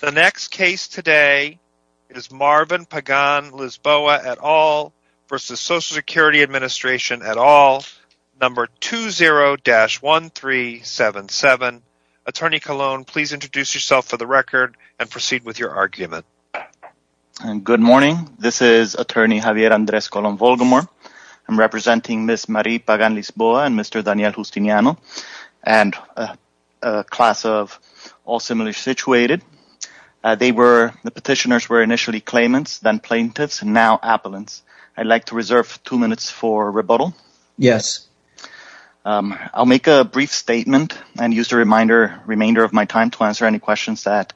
The next case today is Marvin Pagan-Lisboa et al. v. Social Security Administration et al. number 20-1377. Attorney Colon, please introduce yourself for the record and proceed with your argument. Good morning, this is attorney Javier Andres Colon-Volgamor. I'm representing Ms. Marie Pagan-Lisboa. The petitioners were initially claimants, then plaintiffs, and now appellants. I'd like to reserve two minutes for rebuttal. I'll make a brief statement and use the remainder of my time to answer any questions that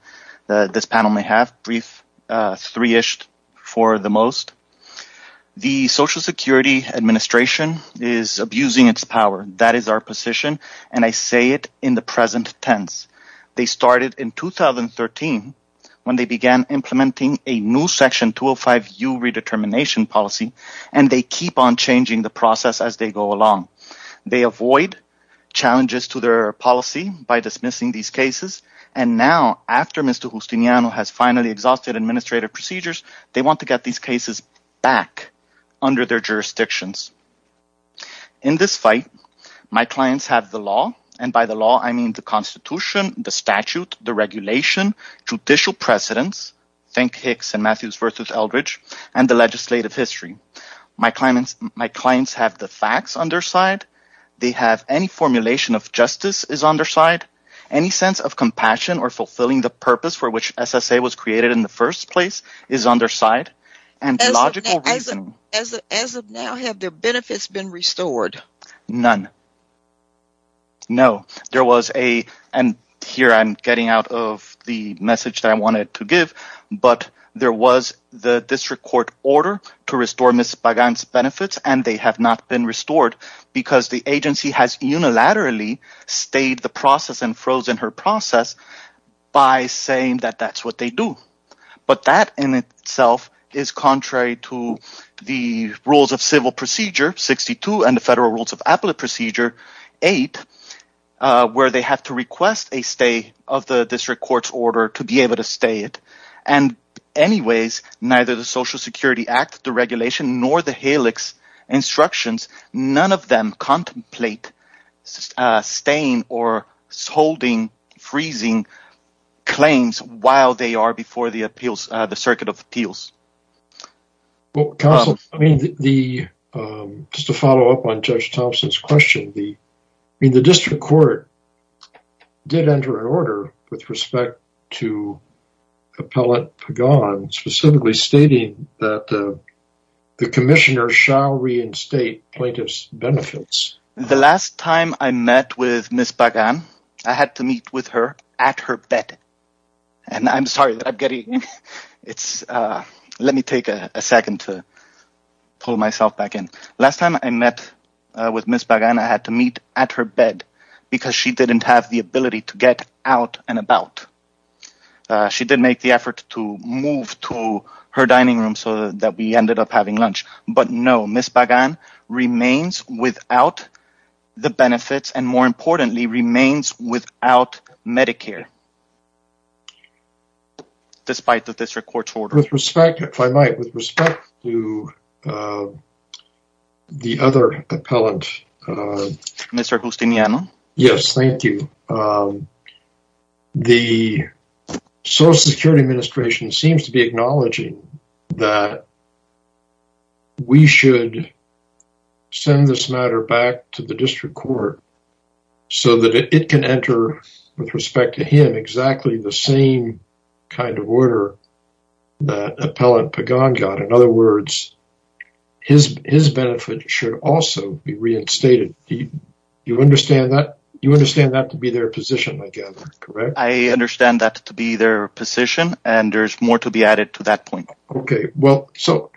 this panel may have, three-ish for the most. The Social Security Administration is abusing its power. That is our position, and I say it in the present tense. They started in 2013 when they began implementing a new Section 205U Redetermination Policy, and they keep on changing the process as they go along. They avoid challenges to their policy by dismissing these cases, and now, after Mr. Justiniano has finally exhausted administrative procedures, they want to get these cases back under their jurisdictions. In this fight, my clients have the law, and by the law, I mean the Constitution, the statute, the regulation, judicial precedents—think Hicks and Matthews v. Eldridge—and the legislative history. My clients have the facts on their side. They have any formulation of justice is on their side. Any sense of compassion or fulfilling the As of now, have their benefits been restored? None. No. There was a—and here I'm getting out of the message that I wanted to give—but there was the district court order to restore Ms. Pagan's benefits, and they have not been restored because the agency has unilaterally stayed the process and frozen her process by saying that that's what they do. But that in itself is contrary to the Rules of Civil Procedure 62 and the Federal Rules of Appellate Procedure 8, where they have to request a stay of the district court's order to be able to stay it. And anyways, neither the Social Security Act, the regulation, nor the appeals—the Circuit of Appeals. Well, counsel, I mean, the—just to follow up on Judge Thompson's question, the—I mean, the district court did enter an order with respect to Appellate Pagan specifically stating that the commissioner shall reinstate plaintiff's benefits. The last time I met with Ms. Pagan, I had to meet with her at her bed. And I'm sorry that I'm getting—it's—let me take a second to pull myself back in. Last time I met with Ms. Pagan, I had to meet at her bed because she didn't have the ability to get out and about. She did make the effort to move to her dining room so that we ended up having lunch. But no, Ms. Pagan remains without the benefits, and more importantly, remains without Medicare, despite the district court's order. With respect—if I might—with respect to the other appellant— Mr. Gustiniano? Yes, thank you. The Social Security Administration seems to be acknowledging that we should send this matter back to the district court so that it can enter, with respect to him, exactly the same kind of order that Appellate Pagan got. In other words, his benefit should also be reinstated. Do you understand that? You understand that to be their position, I guess, correct? I understand that to be their position, and there's more to be added to that point. Okay. Well, so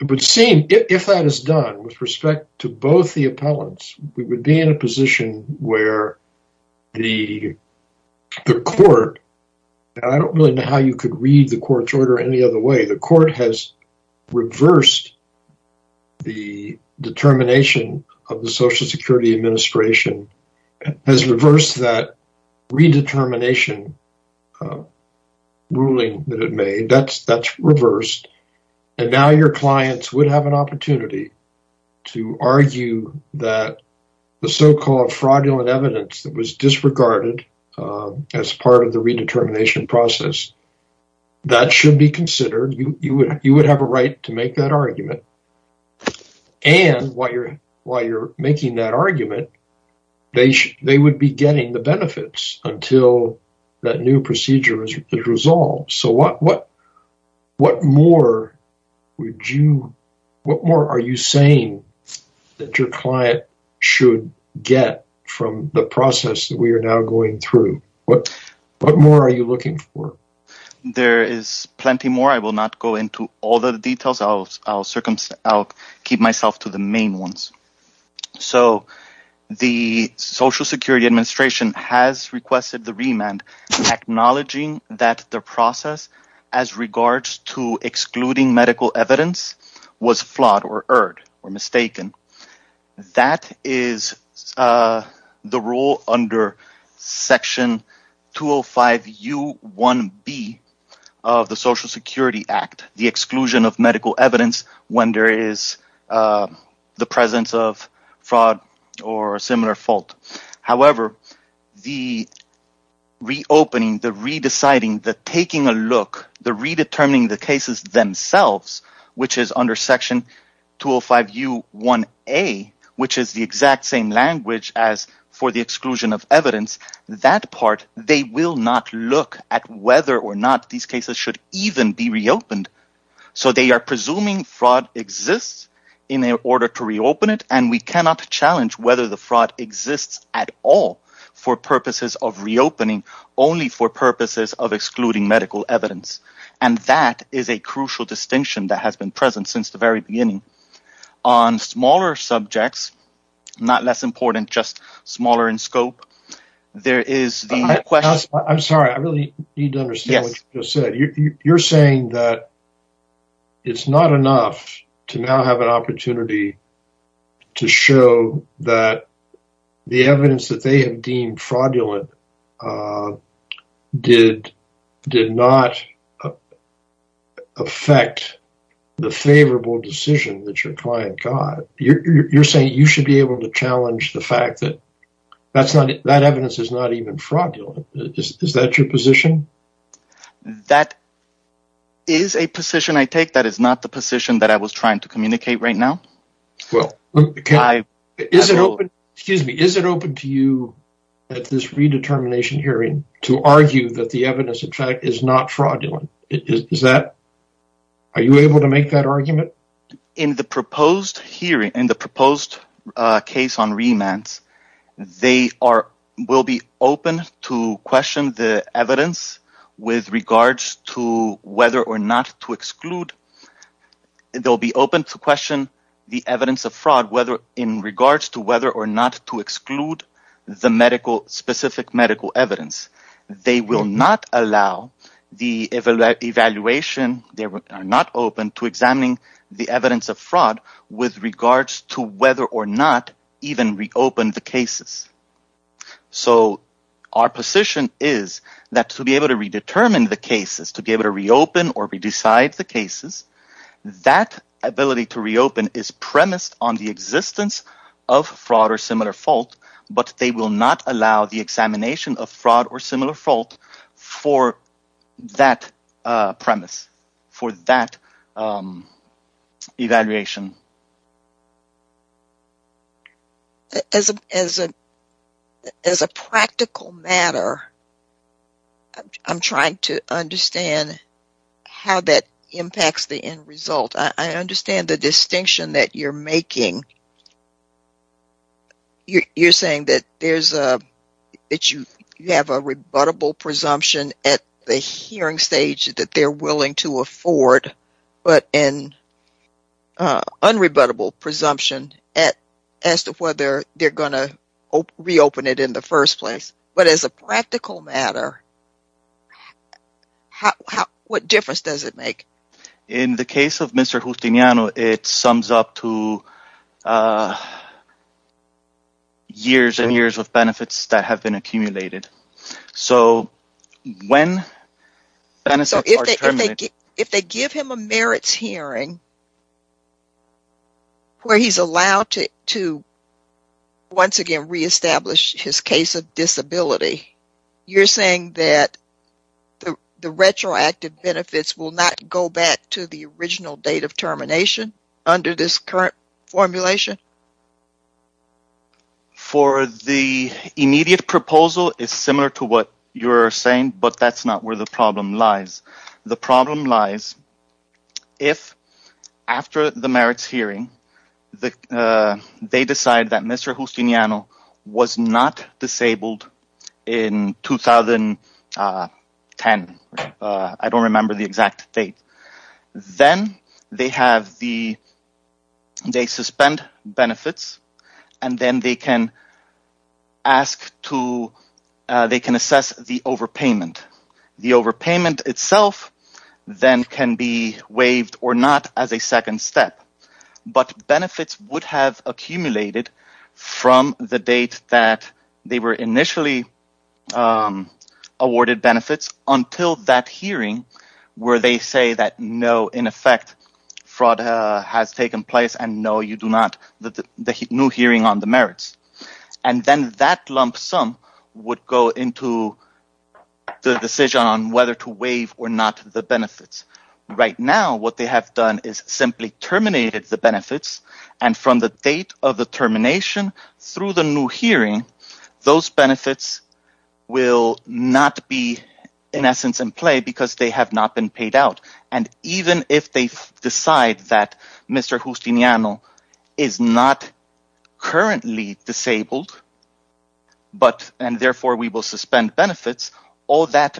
it would seem, if that is done, with respect to both the appellants, we would be in a position where the court—I don't really know how you could read the court's order any other way—the court has reversed the determination of the Social Security Administration, has reversed that redetermination ruling that it made. That's reversed, and now your clients would have an opportunity to argue that the so-called fraudulent evidence that was disregarded as part of the redetermination process, that should be considered. You would have a right to make that argument, and while you're making that argument, they would be getting the benefits until that new procedure is resolved. So what more are you saying that your client should get from the process that we are now going through? What more are you looking for? There is plenty more. I will not go into all the details. I'll keep myself to the main ones. So the Social Security Administration has requested the remand, acknowledging that the process as regards to excluding medical evidence was flawed or erred or mistaken. That is the rule under Section 205U1B of the Social Security Act, the exclusion of medical evidence when there is the presence of fraud or a similar fault. However, the reopening, the re-deciding, the taking a look, the redetermining of the cases themselves, which is under Section 205U1A, which is the exact same language as for the exclusion of evidence, that part, they will not look at whether or not these cases should even be reopened. So they are presuming fraud exists in order to reopen it, and we cannot challenge whether the fraud exists at all for purposes of reopening, only for purposes of excluding medical evidence. And that is a crucial distinction that has been present since the very beginning. On smaller subjects, not less important, just smaller in scope, there is the question... I'm sorry, I really need to understand what you just said. You're saying that it's not enough to now have an opportunity to show that the evidence that they have deemed fraudulent did not affect the favorable decision that your client got. You're saying you should be able to challenge the fact that that evidence is not even fraudulent. Is that your position? That is a position I take that is not the position that I was trying to at this redetermination hearing, to argue that the evidence, in fact, is not fraudulent. Are you able to make that argument? In the proposed hearing, in the proposed case on remands, they will be open to question the evidence with regards to whether or not to exclude, they'll be open to question the evidence of fraud whether in regards to whether or not to exclude the medical, specific medical evidence. They will not allow the evaluation, they are not open to examining the evidence of fraud with regards to whether or not even reopen the cases. So our position is that to be able to redetermine the cases, to be able to reopen or redecide the cases, that ability to reopen is premised on the existence of fraud or similar fault, but they will not allow the examination of fraud or similar fault for that premise, for that evaluation. As a practical matter, I'm trying to understand how that impacts the end result. I understand the distinction that you're making. You're saying that you have a rebuttable presumption at the hearing stage that they're willing to afford, but an unrebuttable presumption at as to whether they're going to reopen it in the first place. But as a practical matter, what difference does it make? In the case of Mr. Justiniano, it sums up to the years and years of benefits that have been accumulated. If they give him a merits hearing where he's allowed to once again re-establish his case of disability, you're saying that the retroactive benefits will not go back to the original date termination under this current formulation? The immediate proposal is similar to what you're saying, but that's not where the problem lies. The problem lies if after the merits hearing they decide that Mr. Justiniano was not disabled in 2010. I don't remember the exact date. Then they suspend benefits, and then they can assess the overpayment. The overpayment itself then can be waived or not as a second step. But benefits would have accumulated from the date that they were initially awarded benefits until that hearing where they say that no, in effect, fraud has taken place and no, you do not, the new hearing on the merits. Then that lump sum would go into the decision on whether to waive or not the benefits. Right now, what they have done is simply terminated the benefits, and from the date of the termination through the new hearing, those benefits will not be in essence in play because they have not been paid out. Even if they decide that Mr. Justiniano is not currently disabled, and therefore we will suspend benefits, all that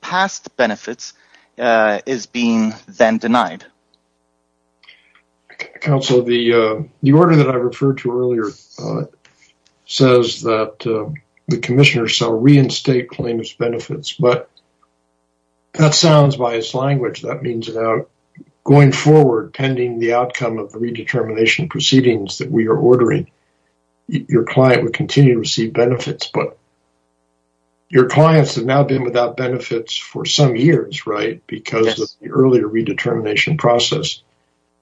past benefits is being then denied. Counsel, the order that I referred to earlier says that the Commissioner shall reinstate claims benefits, but that sounds biased language. That means that going forward, pending the outcome of the redetermination proceedings that we are ordering, your client will continue to receive benefits. But your clients have now been without benefits for some years, right? Because of the redetermination process.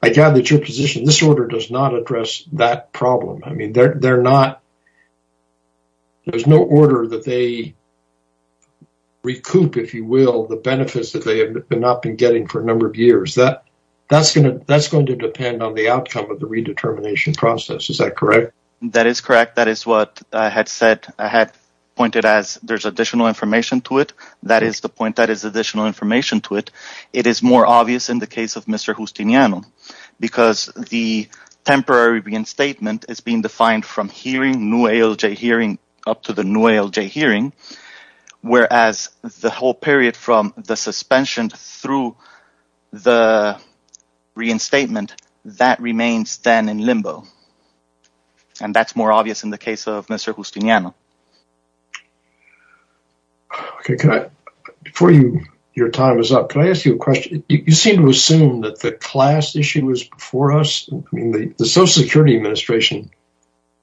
I gather that your position, this order does not address that problem. There is no order that they recoup, if you will, the benefits that they have not been getting for a number of years. That is going to depend on the outcome of the redetermination process. Is that correct? That is correct. That is what I had said. I had pointed as there is additional information to it. That is the point. That is additional information to it. It is more obvious in the case of Mr. Justiniano, because the temporary reinstatement is being defined from hearing, new ALJ hearing up to the new ALJ hearing. Whereas the whole period from the suspension through the reinstatement, that remains then in limbo. And that is more obvious in the case of Mr. Justiniano. Okay. Before your time is up, can I ask you a question? You seem to assume that the class issue was before us. The Social Security Administration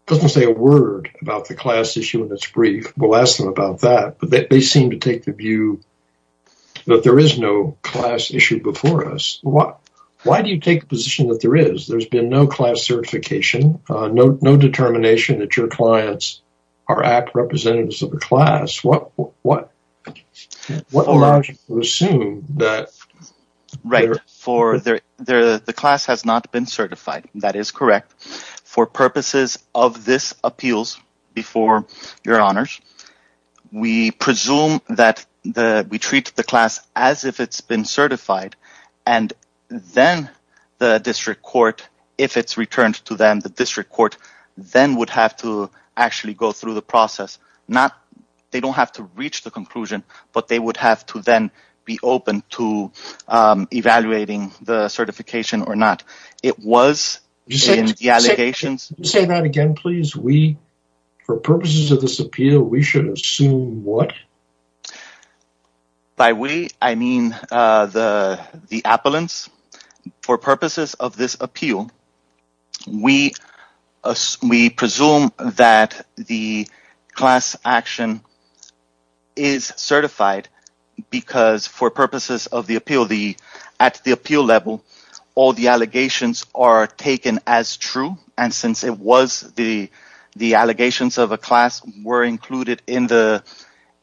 does not say a word about the class issue in its brief. We will ask them about that. But they seem to take the view that there is no class issue before us. Why do you take the position that there is? There has no class certification, no determination that your clients are representatives of the class. The class has not been certified. That is correct. For purposes of this appeals before your honors, we presume that we treat the class as if it has been certified. And then the district court if it's returned to them, the district court then would have to actually go through the process. They don't have to reach the conclusion, but they would have to then be open to evaluating the certification or not. It was in the allegations. Say that again, please. For purposes of this appeal, we should assume what? By we, I mean the appellants. For purposes of this appeal, we presume that the class action is certified because for purposes of the appeal, at the appeal level, all the allegations are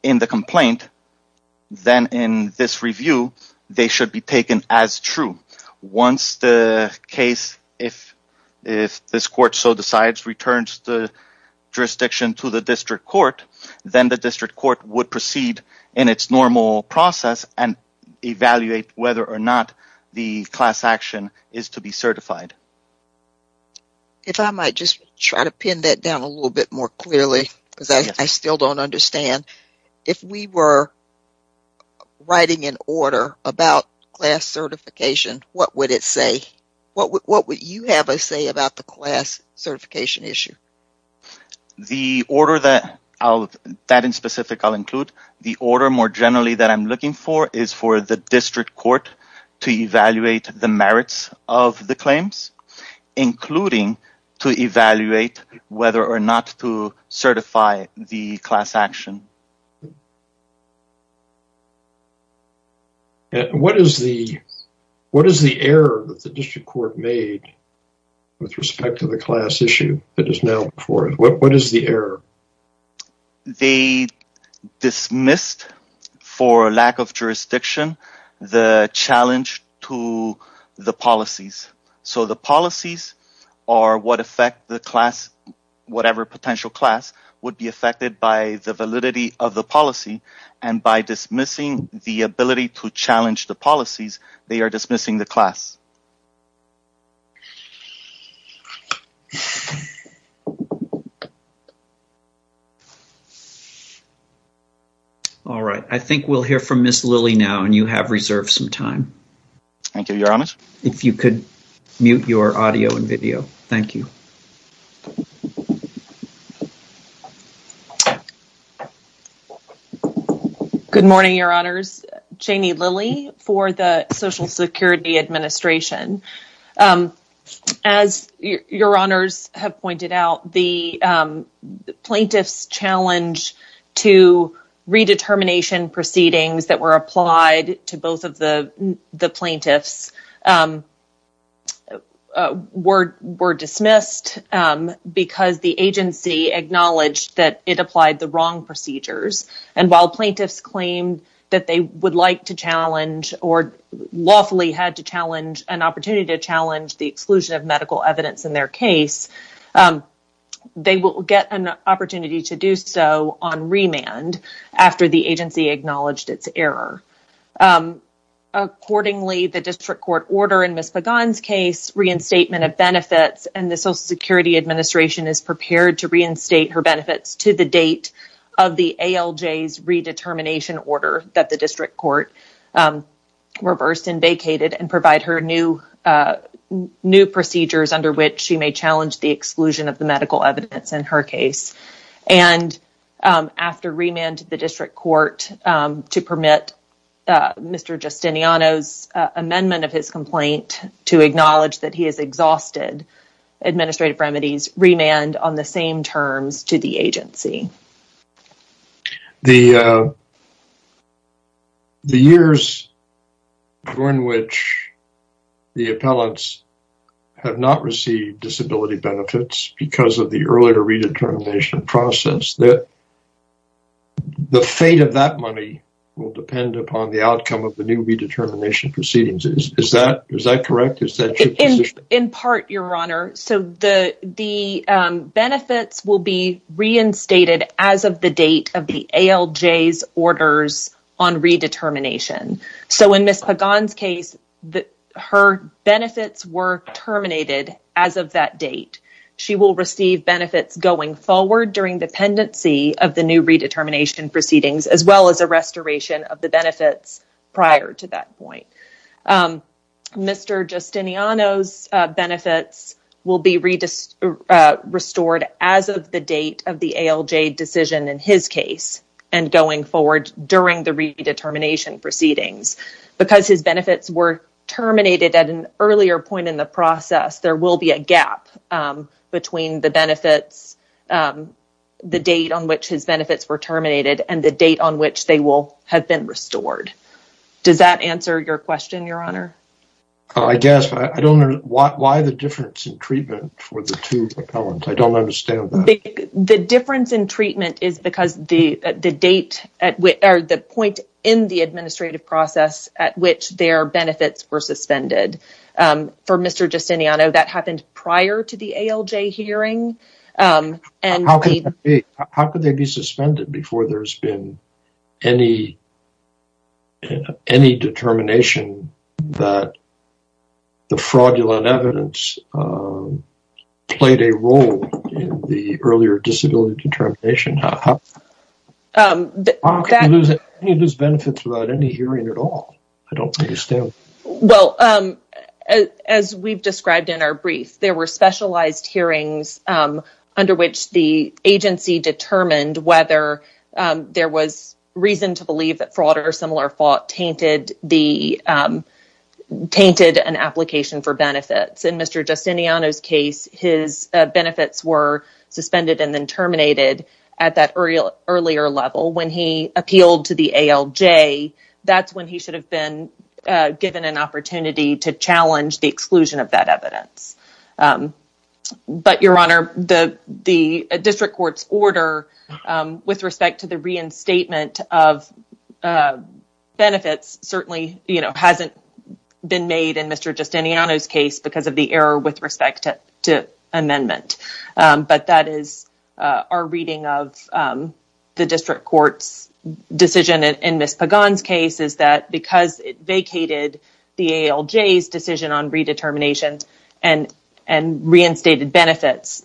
the complaint. Then in this review, they should be taken as true. Once the case, if this court so decides returns the jurisdiction to the district court, then the district court would proceed in its normal process and evaluate whether or not the class action is to be certified. If I might just try to pin that down a little bit more clearly because I still don't understand. If we were writing an order about class certification, what would it say? What would you have to say about the class certification issue? The order that in specific I'll include, the order more generally that I'm looking for is for the district court to evaluate the merits of the claims, including to evaluate whether or not to certify the class action. What is the error that the district court made with respect to the class issue that is now before it? What is the error? They dismissed for lack of jurisdiction the challenge to the policies. The policies are what affect the class, whatever potential class would be affected by the validity of the policy. By dismissing the ability to challenge the policies, they are dismissing the class. All right. I think we'll hear from Ms. Lilly now and you have reserved some time. Thank you, Your Honors. If you could mute your audio and video. Thank you. Good morning, Your Honors. Janie Lilly for the Social Security Administration. As Your Honors have pointed out, the plaintiff's challenge to redetermination proceedings that were applied to both of the plaintiffs were dismissed because the agency acknowledged that it applied the wrong procedures. While plaintiffs claimed that they would like to challenge or lawfully had to challenge an opportunity to challenge the exclusion of medical evidence in their case, they will get an opportunity to do so on remand after the agency acknowledged its error. Accordingly, the district court order in Ms. Pagan's case, reinstatement of benefits, and the Social Security Administration is prepared to reinstate her benefits to the redetermination order that the district court reversed and vacated and provide her new procedures under which she may challenge the exclusion of the medical evidence in her case. After remand to the district court to permit Mr. Justiniano's amendment of his complaint to acknowledge that he has exhausted administrative remedies, remand on the same terms to the agency. The years during which the appellants have not received disability benefits because of the earlier redetermination process, the fate of that money will depend upon the outcome of the new redetermination proceedings. Is that correct? In part, Your Honor. So the benefits will be reinstated as of the date of the ALJ's orders on redetermination. So in Ms. Pagan's case, her benefits were terminated as of that date. She will receive benefits going forward during dependency of the new redetermination proceedings as well as a restoration of the restored as of the date of the ALJ decision in his case and going forward during the redetermination proceedings. Because his benefits were terminated at an earlier point in the process, there will be a gap between the benefits, the date on which his benefits were terminated, and the date on which they will have been restored. Does that answer your question, Your Honor? I guess. I don't know why the difference in treatment for the two appellants. I don't understand that. The difference in treatment is because the point in the administrative process at which their benefits were suspended. For Mr. Justiniano, that happened prior to the ALJ hearing. How could they be suspended before there's been any determination that the fraudulent evidence played a role in the earlier disability determination? How can you lose benefits without any hearing at all? I don't understand. Well, as we've described in our brief, there were specialized hearings under which the agency determined whether there was reason to believe that fraud or similar fault tainted an application for benefits. In Mr. Justiniano's case, his benefits were suspended and then terminated at that earlier level. When he appealed to the ALJ, that's when he should have been given an opportunity to challenge the But, Your Honor, the district court's order with respect to the reinstatement of benefits certainly hasn't been made in Mr. Justiniano's case because of the error with respect to amendment. But that is our reading of the district court's decision in Ms. Pagan's case is that because it vacated the ALJ's decision on redetermination and reinstated benefits,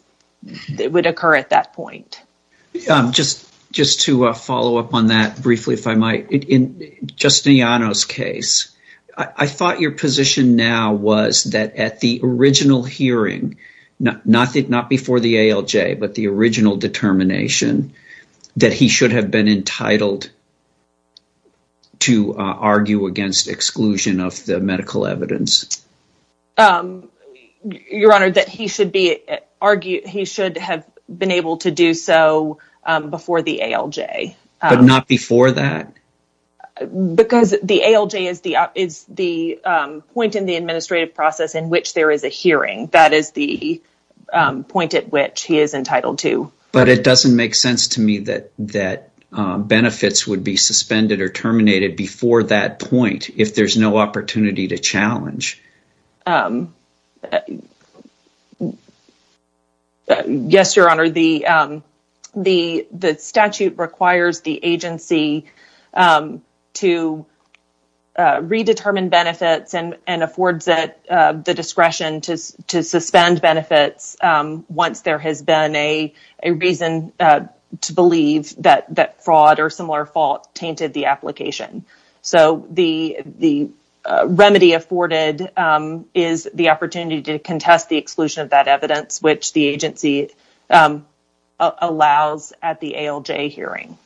it would occur at that point. Just to follow up on that briefly, if I might, in Mr. Justiniano's case, I thought your position now was that at the original hearing, not before the ALJ, but the original determination that he should have been entitled to argue against exclusion of the medical evidence. Your Honor, that he should have been able to do so before the ALJ. But not before that? Because the ALJ is the point in the But it doesn't make sense to me that benefits would be suspended or terminated before that point if there's no opportunity to challenge. Yes, Your Honor. The statute requires the agency to redetermine benefits and affords it the discretion to suspend benefits once there has been a reason to believe that fraud or similar fault tainted the application. So the remedy afforded is the opportunity to contest the exclusion of that evidence, which the agency allows at the ALJ hearing.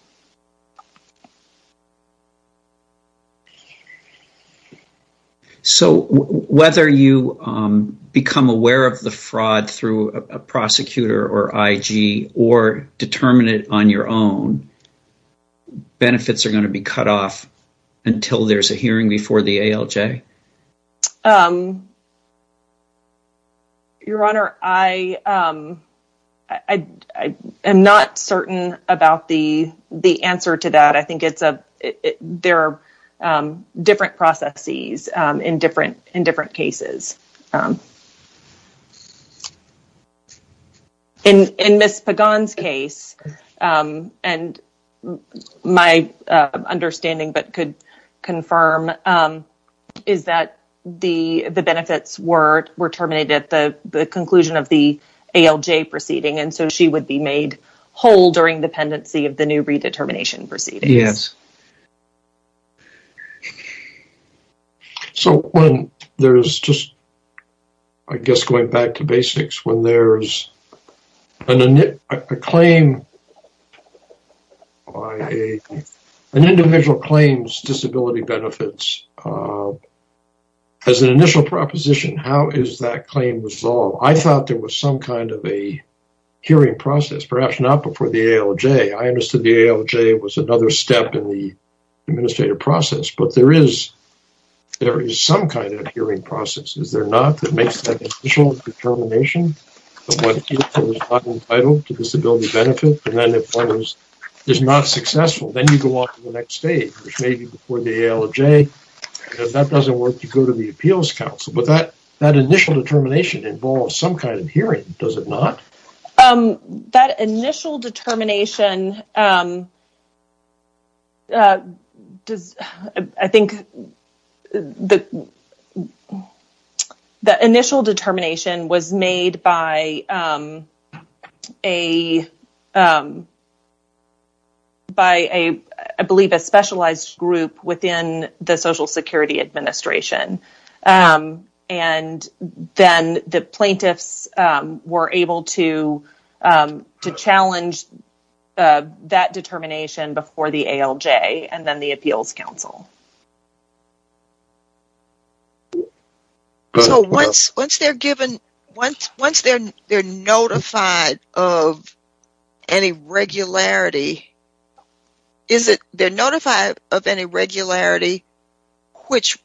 So whether you become aware of the fraud through a prosecutor or I.G. or determine it on your own, benefits are going to be cut off until there's a hearing before the ALJ? Your Honor, I am not certain about the answer to that. I think there are different processes in different cases. In Ms. Pagan's case, and my understanding but could confirm, is that the benefits were terminated at the conclusion of the ALJ proceeding, and so she would be made whole during the pendency of the new redetermination proceedings. Yes. So when there's just, I guess going back to basics, when there's a claim, an individual claims disability benefits, as an initial proposition, how is that claim resolved? I thought there was some kind of a hearing process, perhaps not before the ALJ. I understood the ALJ was another step in the administrative process, but there is some kind of hearing process, is there not, that makes that initial determination of what is or is not entitled to disability benefits, and then if one is not successful, then you go on to the next stage, which may be before the ALJ, and if that doesn't work, you go to the Appeals Council. But that initial determination involves some kind of hearing, does it not? That initial determination does, I think, the initial determination was made by a, by a, I believe, a specialized group within the Social Security Administration, and then the plaintiffs were able to challenge that determination before the ALJ, and then the Appeals Council. So once they're given, once they're notified of any regularity, is it they're notified of any regularity which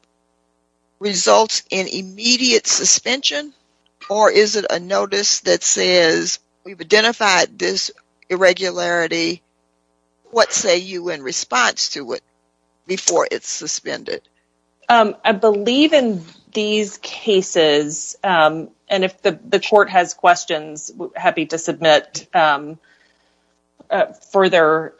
results in immediate suspension, or is it a notice that says we've identified this irregularity, what say you in response to it before it's suspended? I believe in these cases, and if the court has questions, happy to submit a further,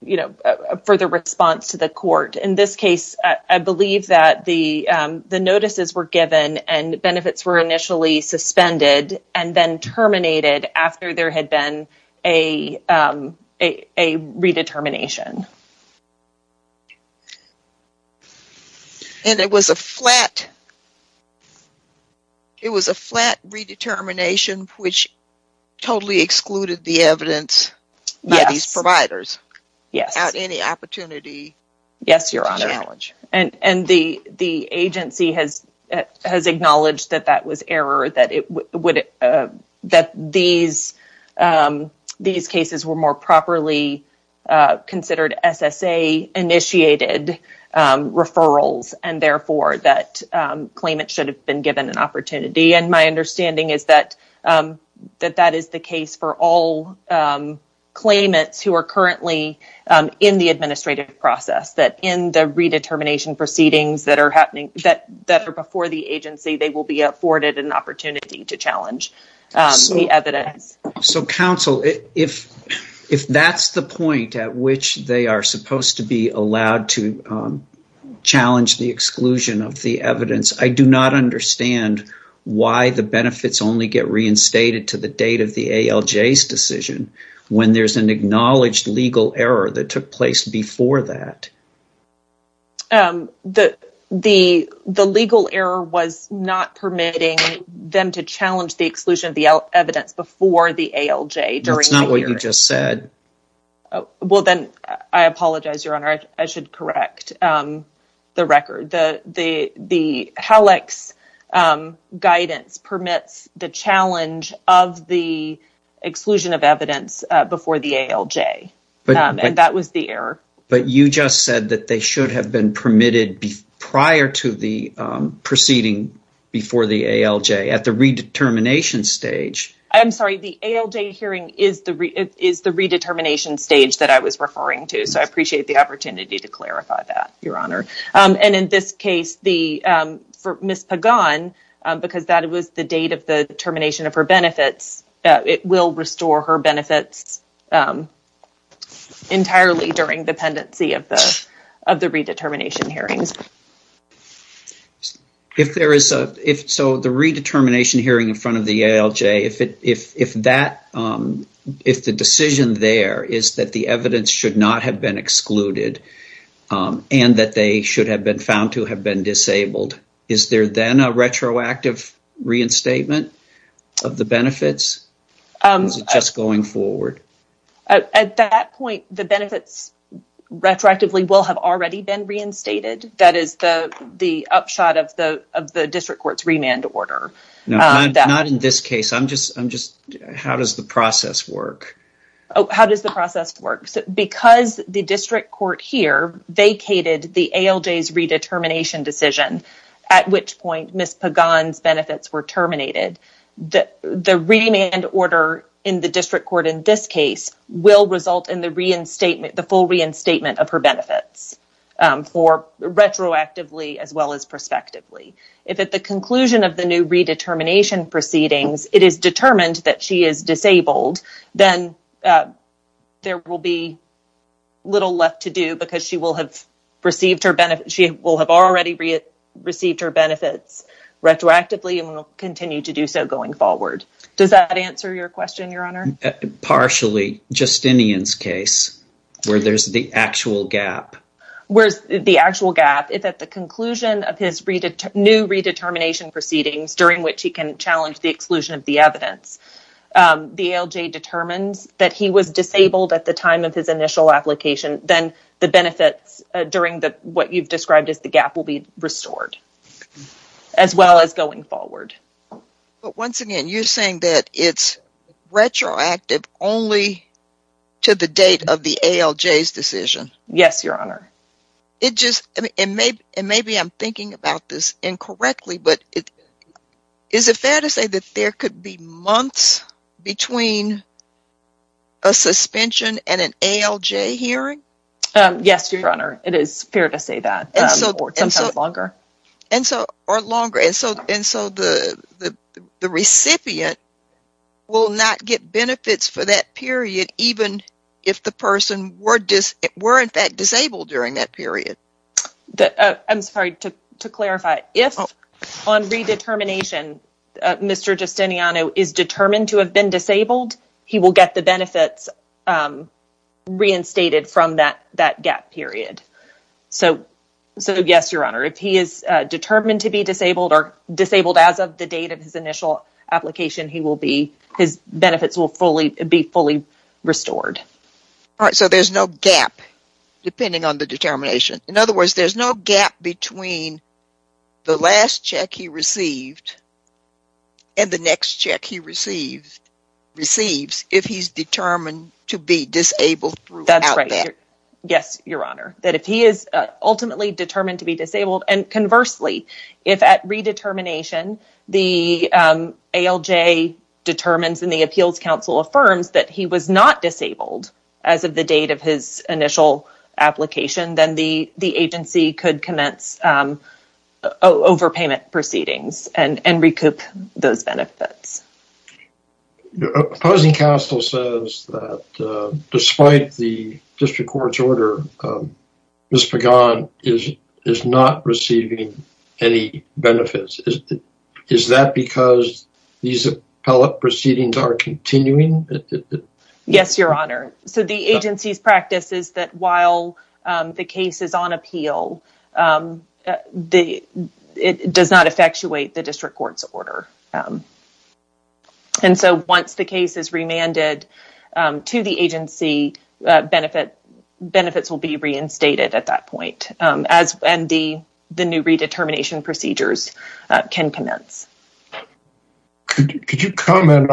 you know, a further response to the court. In this case, I believe that the notices were given and benefits were initially suspended and then terminated after there had been a redetermination. And it was a flat, it was a flat redetermination which totally excluded the evidence by these providers without any opportunity to challenge? Yes, Your Honor, and the agency has acknowledged that that was error, that it would, that these cases were more properly considered SSA-initiated referrals, and therefore that claimant should have been given an opportunity. And my understanding is that that is the case for all claimants who are currently in the administrative process, that in the redetermination proceedings that are happening, that that are before the agency, they will be afforded an opportunity to challenge the evidence. So counsel, if that's the point at which they are supposed to be allowed to challenge the exclusion of the evidence, I do not understand why the benefits only get reinstated to the date of the ALJ's decision when there's an acknowledged legal error that took place before that. The legal error was not permitting them to challenge the exclusion of the evidence before the ALJ. That's not what you just said. Well, then I apologize, Your Honor, I should correct the record. The HALEX guidance permits the challenge of the exclusion of evidence before the ALJ, and that was the error. But you just said that they should have been permitted prior to the proceeding before the ALJ at the redetermination stage. I'm sorry, the ALJ hearing is the redetermination stage that I was referring to, so I appreciate the opportunity to clarify that, Your Honor. And in this case, for Ms. Pagan, because that was the date of the termination of her benefits, it will restore her benefits entirely during the pendency of the redetermination hearings. So, the redetermination hearing in front of the ALJ, if the decision there is that the evidence should not have been excluded and that they should have been found to have been disabled, is there then a retroactive reinstatement of the benefits, or is it just going forward? At that point, the benefits retroactively will have already been reinstated. That is the upshot of the district court's remand order. Not in this case, I'm just, how does the process work? How does the process work? Because the district court here vacated the ALJ's redetermination decision, at which point Ms. Pagan's benefits were terminated, the remand order in the district court in this case will result in the reinstatement, the full reinstatement of her benefits for retroactively as well as prospectively. If at the conclusion of the new redetermination proceedings, it is determined that she is disabled, then there will be little left to do because she will have received her benefits, she will have already received her benefits retroactively and will continue to do so going forward. Does that answer your question, Your Honor? Partially. Justinian's case, where there's the actual gap. Where's the actual gap? If at the conclusion of his new redetermination proceedings, during which he can challenge the exclusion of the evidence, the ALJ determines that he was disabled at the time of his initial application, then the benefits during what you've described as the gap will be restored as well as going forward. But once again, you're saying that it's retroactive only to the date of the ALJ's decision? Yes, Your Honor. And maybe I'm thinking about this incorrectly, but is it fair to say that there could be months between a suspension and an ALJ hearing? Yes, Your Honor, it is fair to say that, or sometimes longer. And so the recipient will not get benefits for that period even if the person were in fact disabled during that period? I'm sorry, to clarify, if on redetermination Mr. Justiniano is determined to have been disabled, he will get the benefits reinstated from that gap period. So yes, Your Honor, if he is determined to be disabled or disabled as of the date of his initial application, his benefits will be fully restored. All right, so there's no gap depending on the determination. In other words, there's no gap between the last check he received and the next check he receives if he's determined to be disabled throughout that period? That's right. Yes, Your Honor. That if he is ultimately determined to be disabled, and conversely, if at redetermination the ALJ determines and the Appeals Council affirms that he was not disabled as of the date of his initial application, then the agency could commence overpayment proceedings and recoup those benefits. The opposing counsel says that despite the district court's order, Mr. Gaunt is not receiving any benefits. Is that because these appellate proceedings are continuing? Yes, Your Honor. So the agency's practice is that while the case is on appeal, it does not effectuate the district court's order. And so once the case is remanded to the agency, benefits will be reinstated at that point and the new redetermination procedures can commence. You heard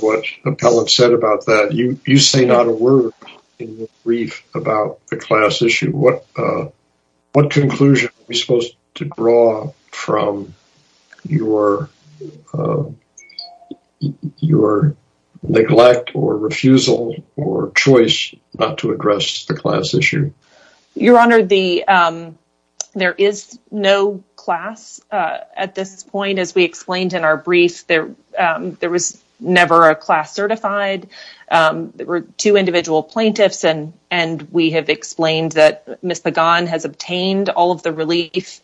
what the appellate said about that. You say not a word in your brief about the class issue. What conclusion are we supposed to draw from your neglect or refusal or choice not to address the class issue? Your Honor, there is no class at this point. As we explained in our brief, there was never a class certified. There were two individual plaintiffs and we have explained that Ms. Pagan has obtained all of the relief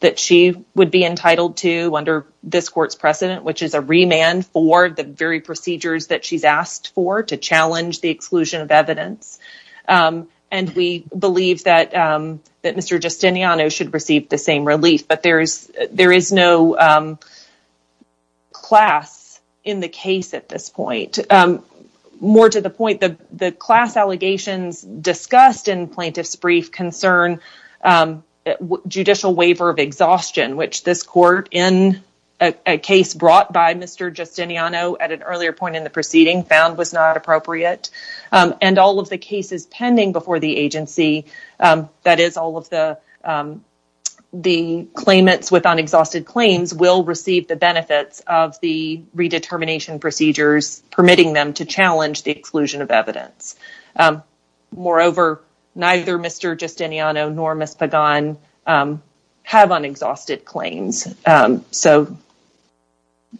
that she would be entitled to under this court's precedent, which is a remand for the very procedures that she's asked for to challenge the exclusion of evidence. And we believe that Mr. Justiniano should receive the same relief. But there is no class in the case at this point. More to the point, the class allegations discussed in plaintiff's brief concern judicial waiver of exhaustion, which this court in a case brought by Mr. Justiniano at an earlier point in the proceeding found was not appropriate. And all of the cases pending before the agency, that is all of the claimants with unexhausted claims will receive the benefits of the redetermination procedures permitting them to challenge the exclusion of evidence. Moreover, neither Mr. Justiniano nor Ms. Pagan have unexhausted claims. So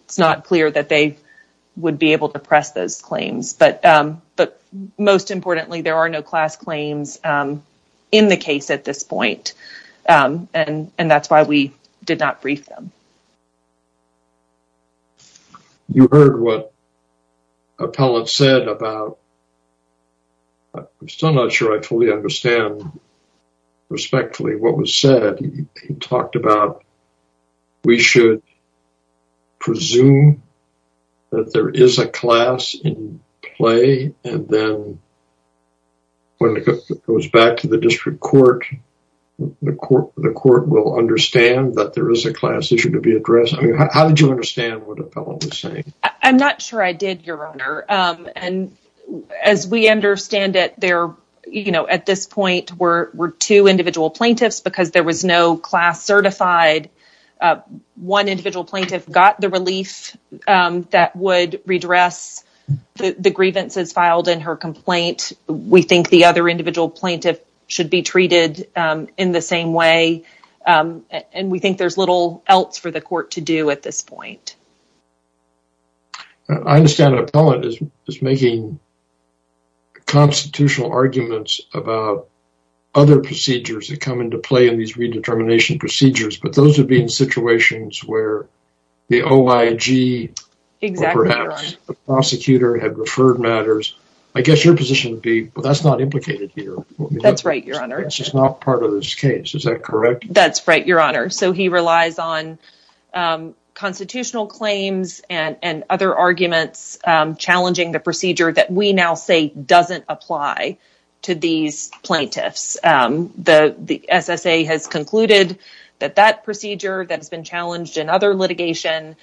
it's not clear that they would be able to press those claims. But most importantly, there are no class claims in the case at this point. And that's why we did not brief them. You heard what Appellant said about, I'm still not sure I fully understand respectfully what said, he talked about, we should presume that there is a class in play. And then when it goes back to the district court, the court will understand that there is a class issue to be addressed. I mean, how did you understand what Appellant was saying? I'm not sure I did, Your Honor. And as we understand it, there at this point were two individual plaintiffs because there was no class certified. One individual plaintiff got the relief that would redress the grievances filed in her complaint. We think the other individual plaintiff should be treated in the same way. And we think there's little else for the court to do at this point. I understand Appellant is making constitutional arguments about other procedures that come into play in these redetermination procedures. But those would be in situations where the OIG or perhaps the prosecutor had referred matters. I guess your position would be, well, that's not implicated here. That's right, Your Honor. It's just not part of this case. Is that correct? That's right, Your Honor. So he relies on constitutional claims and other arguments challenging the procedure that we now say doesn't apply to these plaintiffs. The SSA has concluded that that procedure that has been challenged in other litigation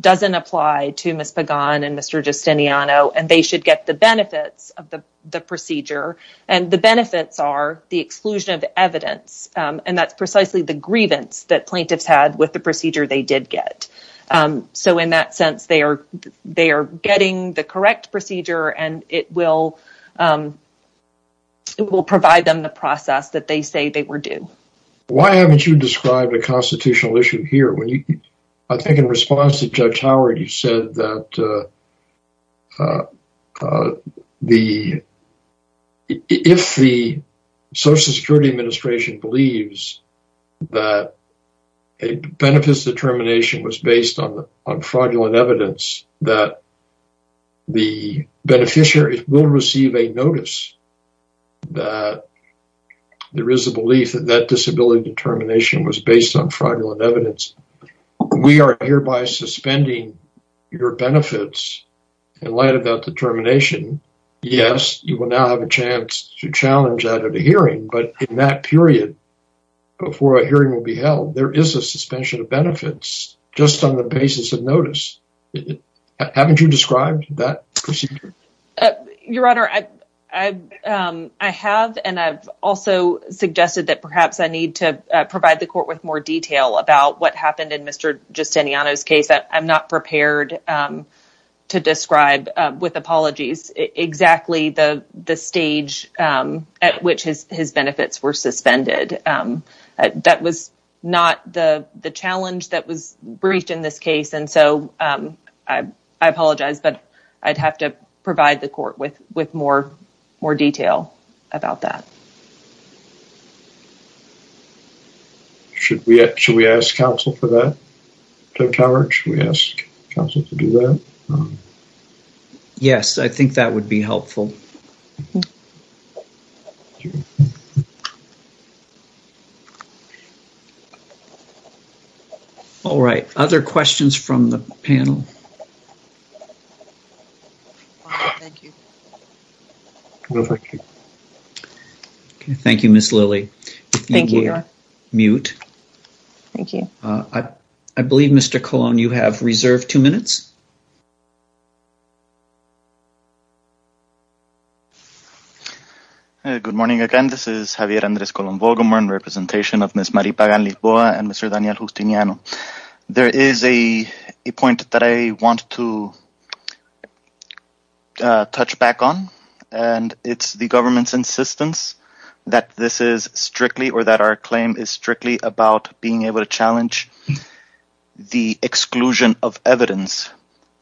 doesn't apply to Ms. Pagan and Mr. Justiniano. And they should get the benefits of the procedure. And the benefits are the exclusion of evidence. And that's precisely the grievance that plaintiffs had with the procedure they did get. So in that sense, they are getting the correct procedure and it will provide them the process that they say they were due. Why haven't you described a constitutional issue here? I think in response to Judge Howard, you said that if the Social Security Administration believes that a benefits determination was based on fraudulent evidence, that the beneficiary will receive a notice that there is a belief that that disability determination was based on fraudulent evidence, we are hereby suspending your benefits in light of that determination. Yes, you will now have a chance to challenge that at a hearing. But in that period before a hearing will be held, there is a suspension of benefits just on the basis of notice. Haven't you described that procedure? Your Honor, I have. And I've also suggested that perhaps I need to provide the court with more detail about what happened in Mr. Justiniano's case. I'm not prepared to describe with apologies exactly the stage at which his benefits were suspended. That was not the challenge that was briefed in this case. And so I apologize, but I'd have to provide the court with more detail about that. Should we ask counsel for that, Judge Howard? Should we ask counsel to do that? Yes, I think that would be helpful. All right. Other questions from the panel? Thank you. No, thank you. Okay, thank you, Ms. Lilley. Thank you, Your Honor. Mute. Thank you. I believe, Mr. Colon, you have reserved two minutes. Good morning again. This is Javier Andres Colon-Volgerman, representation of Ms. Maripa Ganlis-Boa and Mr. Daniel Justiniano. There is a point that I want to touch back on, and it's the government's insistence that this is strictly or that our claim is strictly about being able to challenge the exclusion of evidence.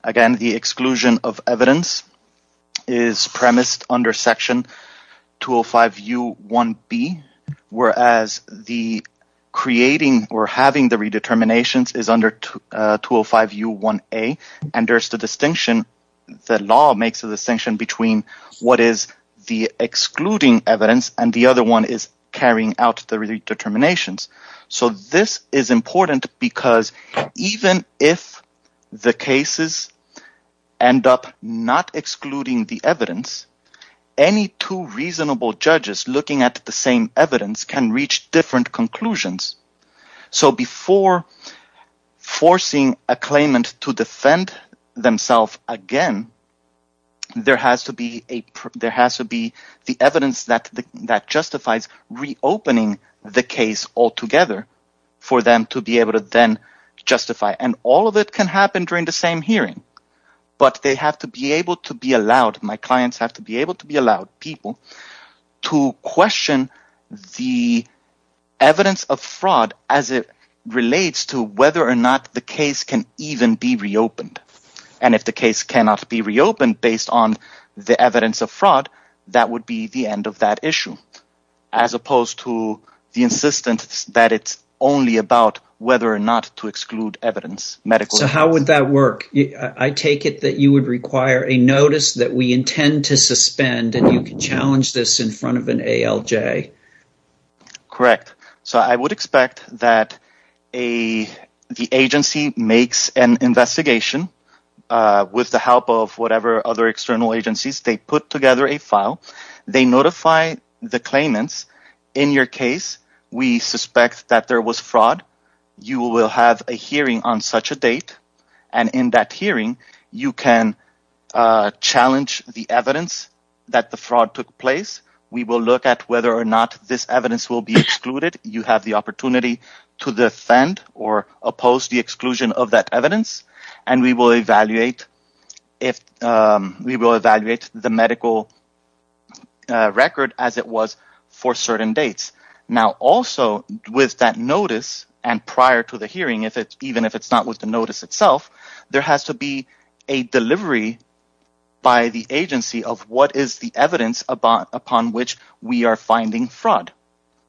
Again, the exclusion of evidence is premised under Section 205U1B, whereas the creating or having the redeterminations is under 205U1A, and there's the distinction—the law makes a distinction between what is the excluding evidence and the other one is carrying out the redeterminations. So this is important because even if the cases end up not excluding the evidence, any two reasonable judges looking at the same evidence can reach different conclusions. So before forcing a claimant to defend themselves again, there has to be the evidence that justifies reopening the case altogether for them to be able to then justify. And all of it can happen during the same hearing, but they have to be able to be allowed—my relates to whether or not the case can even be reopened. And if the case cannot be reopened based on the evidence of fraud, that would be the end of that issue, as opposed to the insistence that it's only about whether or not to exclude evidence, medical evidence. So how would that work? I take it that you would require a notice that we intend to suspend and you can challenge this in front of an ALJ. Correct. So I would expect that the agency makes an investigation with the help of whatever other external agencies. They put together a file. They notify the claimants, in your case, we suspect that there was fraud. You will have a hearing on such a date. And in that hearing, you can challenge the evidence that the fraud took place. We will look at whether or not this evidence will be excluded. You have the opportunity to defend or oppose the exclusion of that evidence. And we will evaluate the medical record as it was for certain dates. Now, also with that notice and prior to the hearing, even if it's not with the notice itself, there has to be a delivery by the agency of what is the evidence upon which we are finding fraud.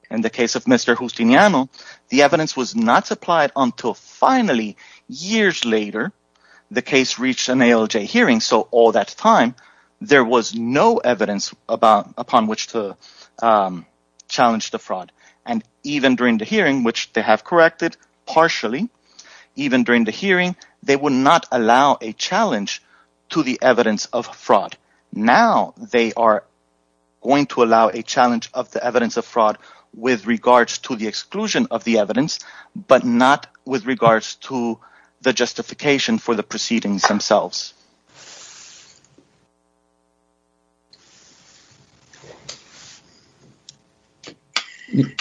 In the case of Mr. Justiniano, the evidence was not supplied until finally, years later, the case reached an ALJ hearing. So all that time, there was no evidence upon which to challenge the fraud. And even during the hearing, which they have corrected partially, even during the hearing, they would not allow a challenge to the evidence of fraud. Now, they are going to allow a challenge of the evidence of fraud with regards to the exclusion of the evidence, but not with regards to the justification for the proceedings themselves.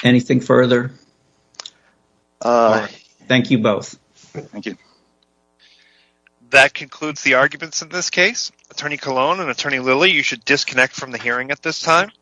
Anything further? Thank you both. That concludes the arguments in this case. Attorney Colon and Attorney Lilly, you should disconnect from the hearing at this time.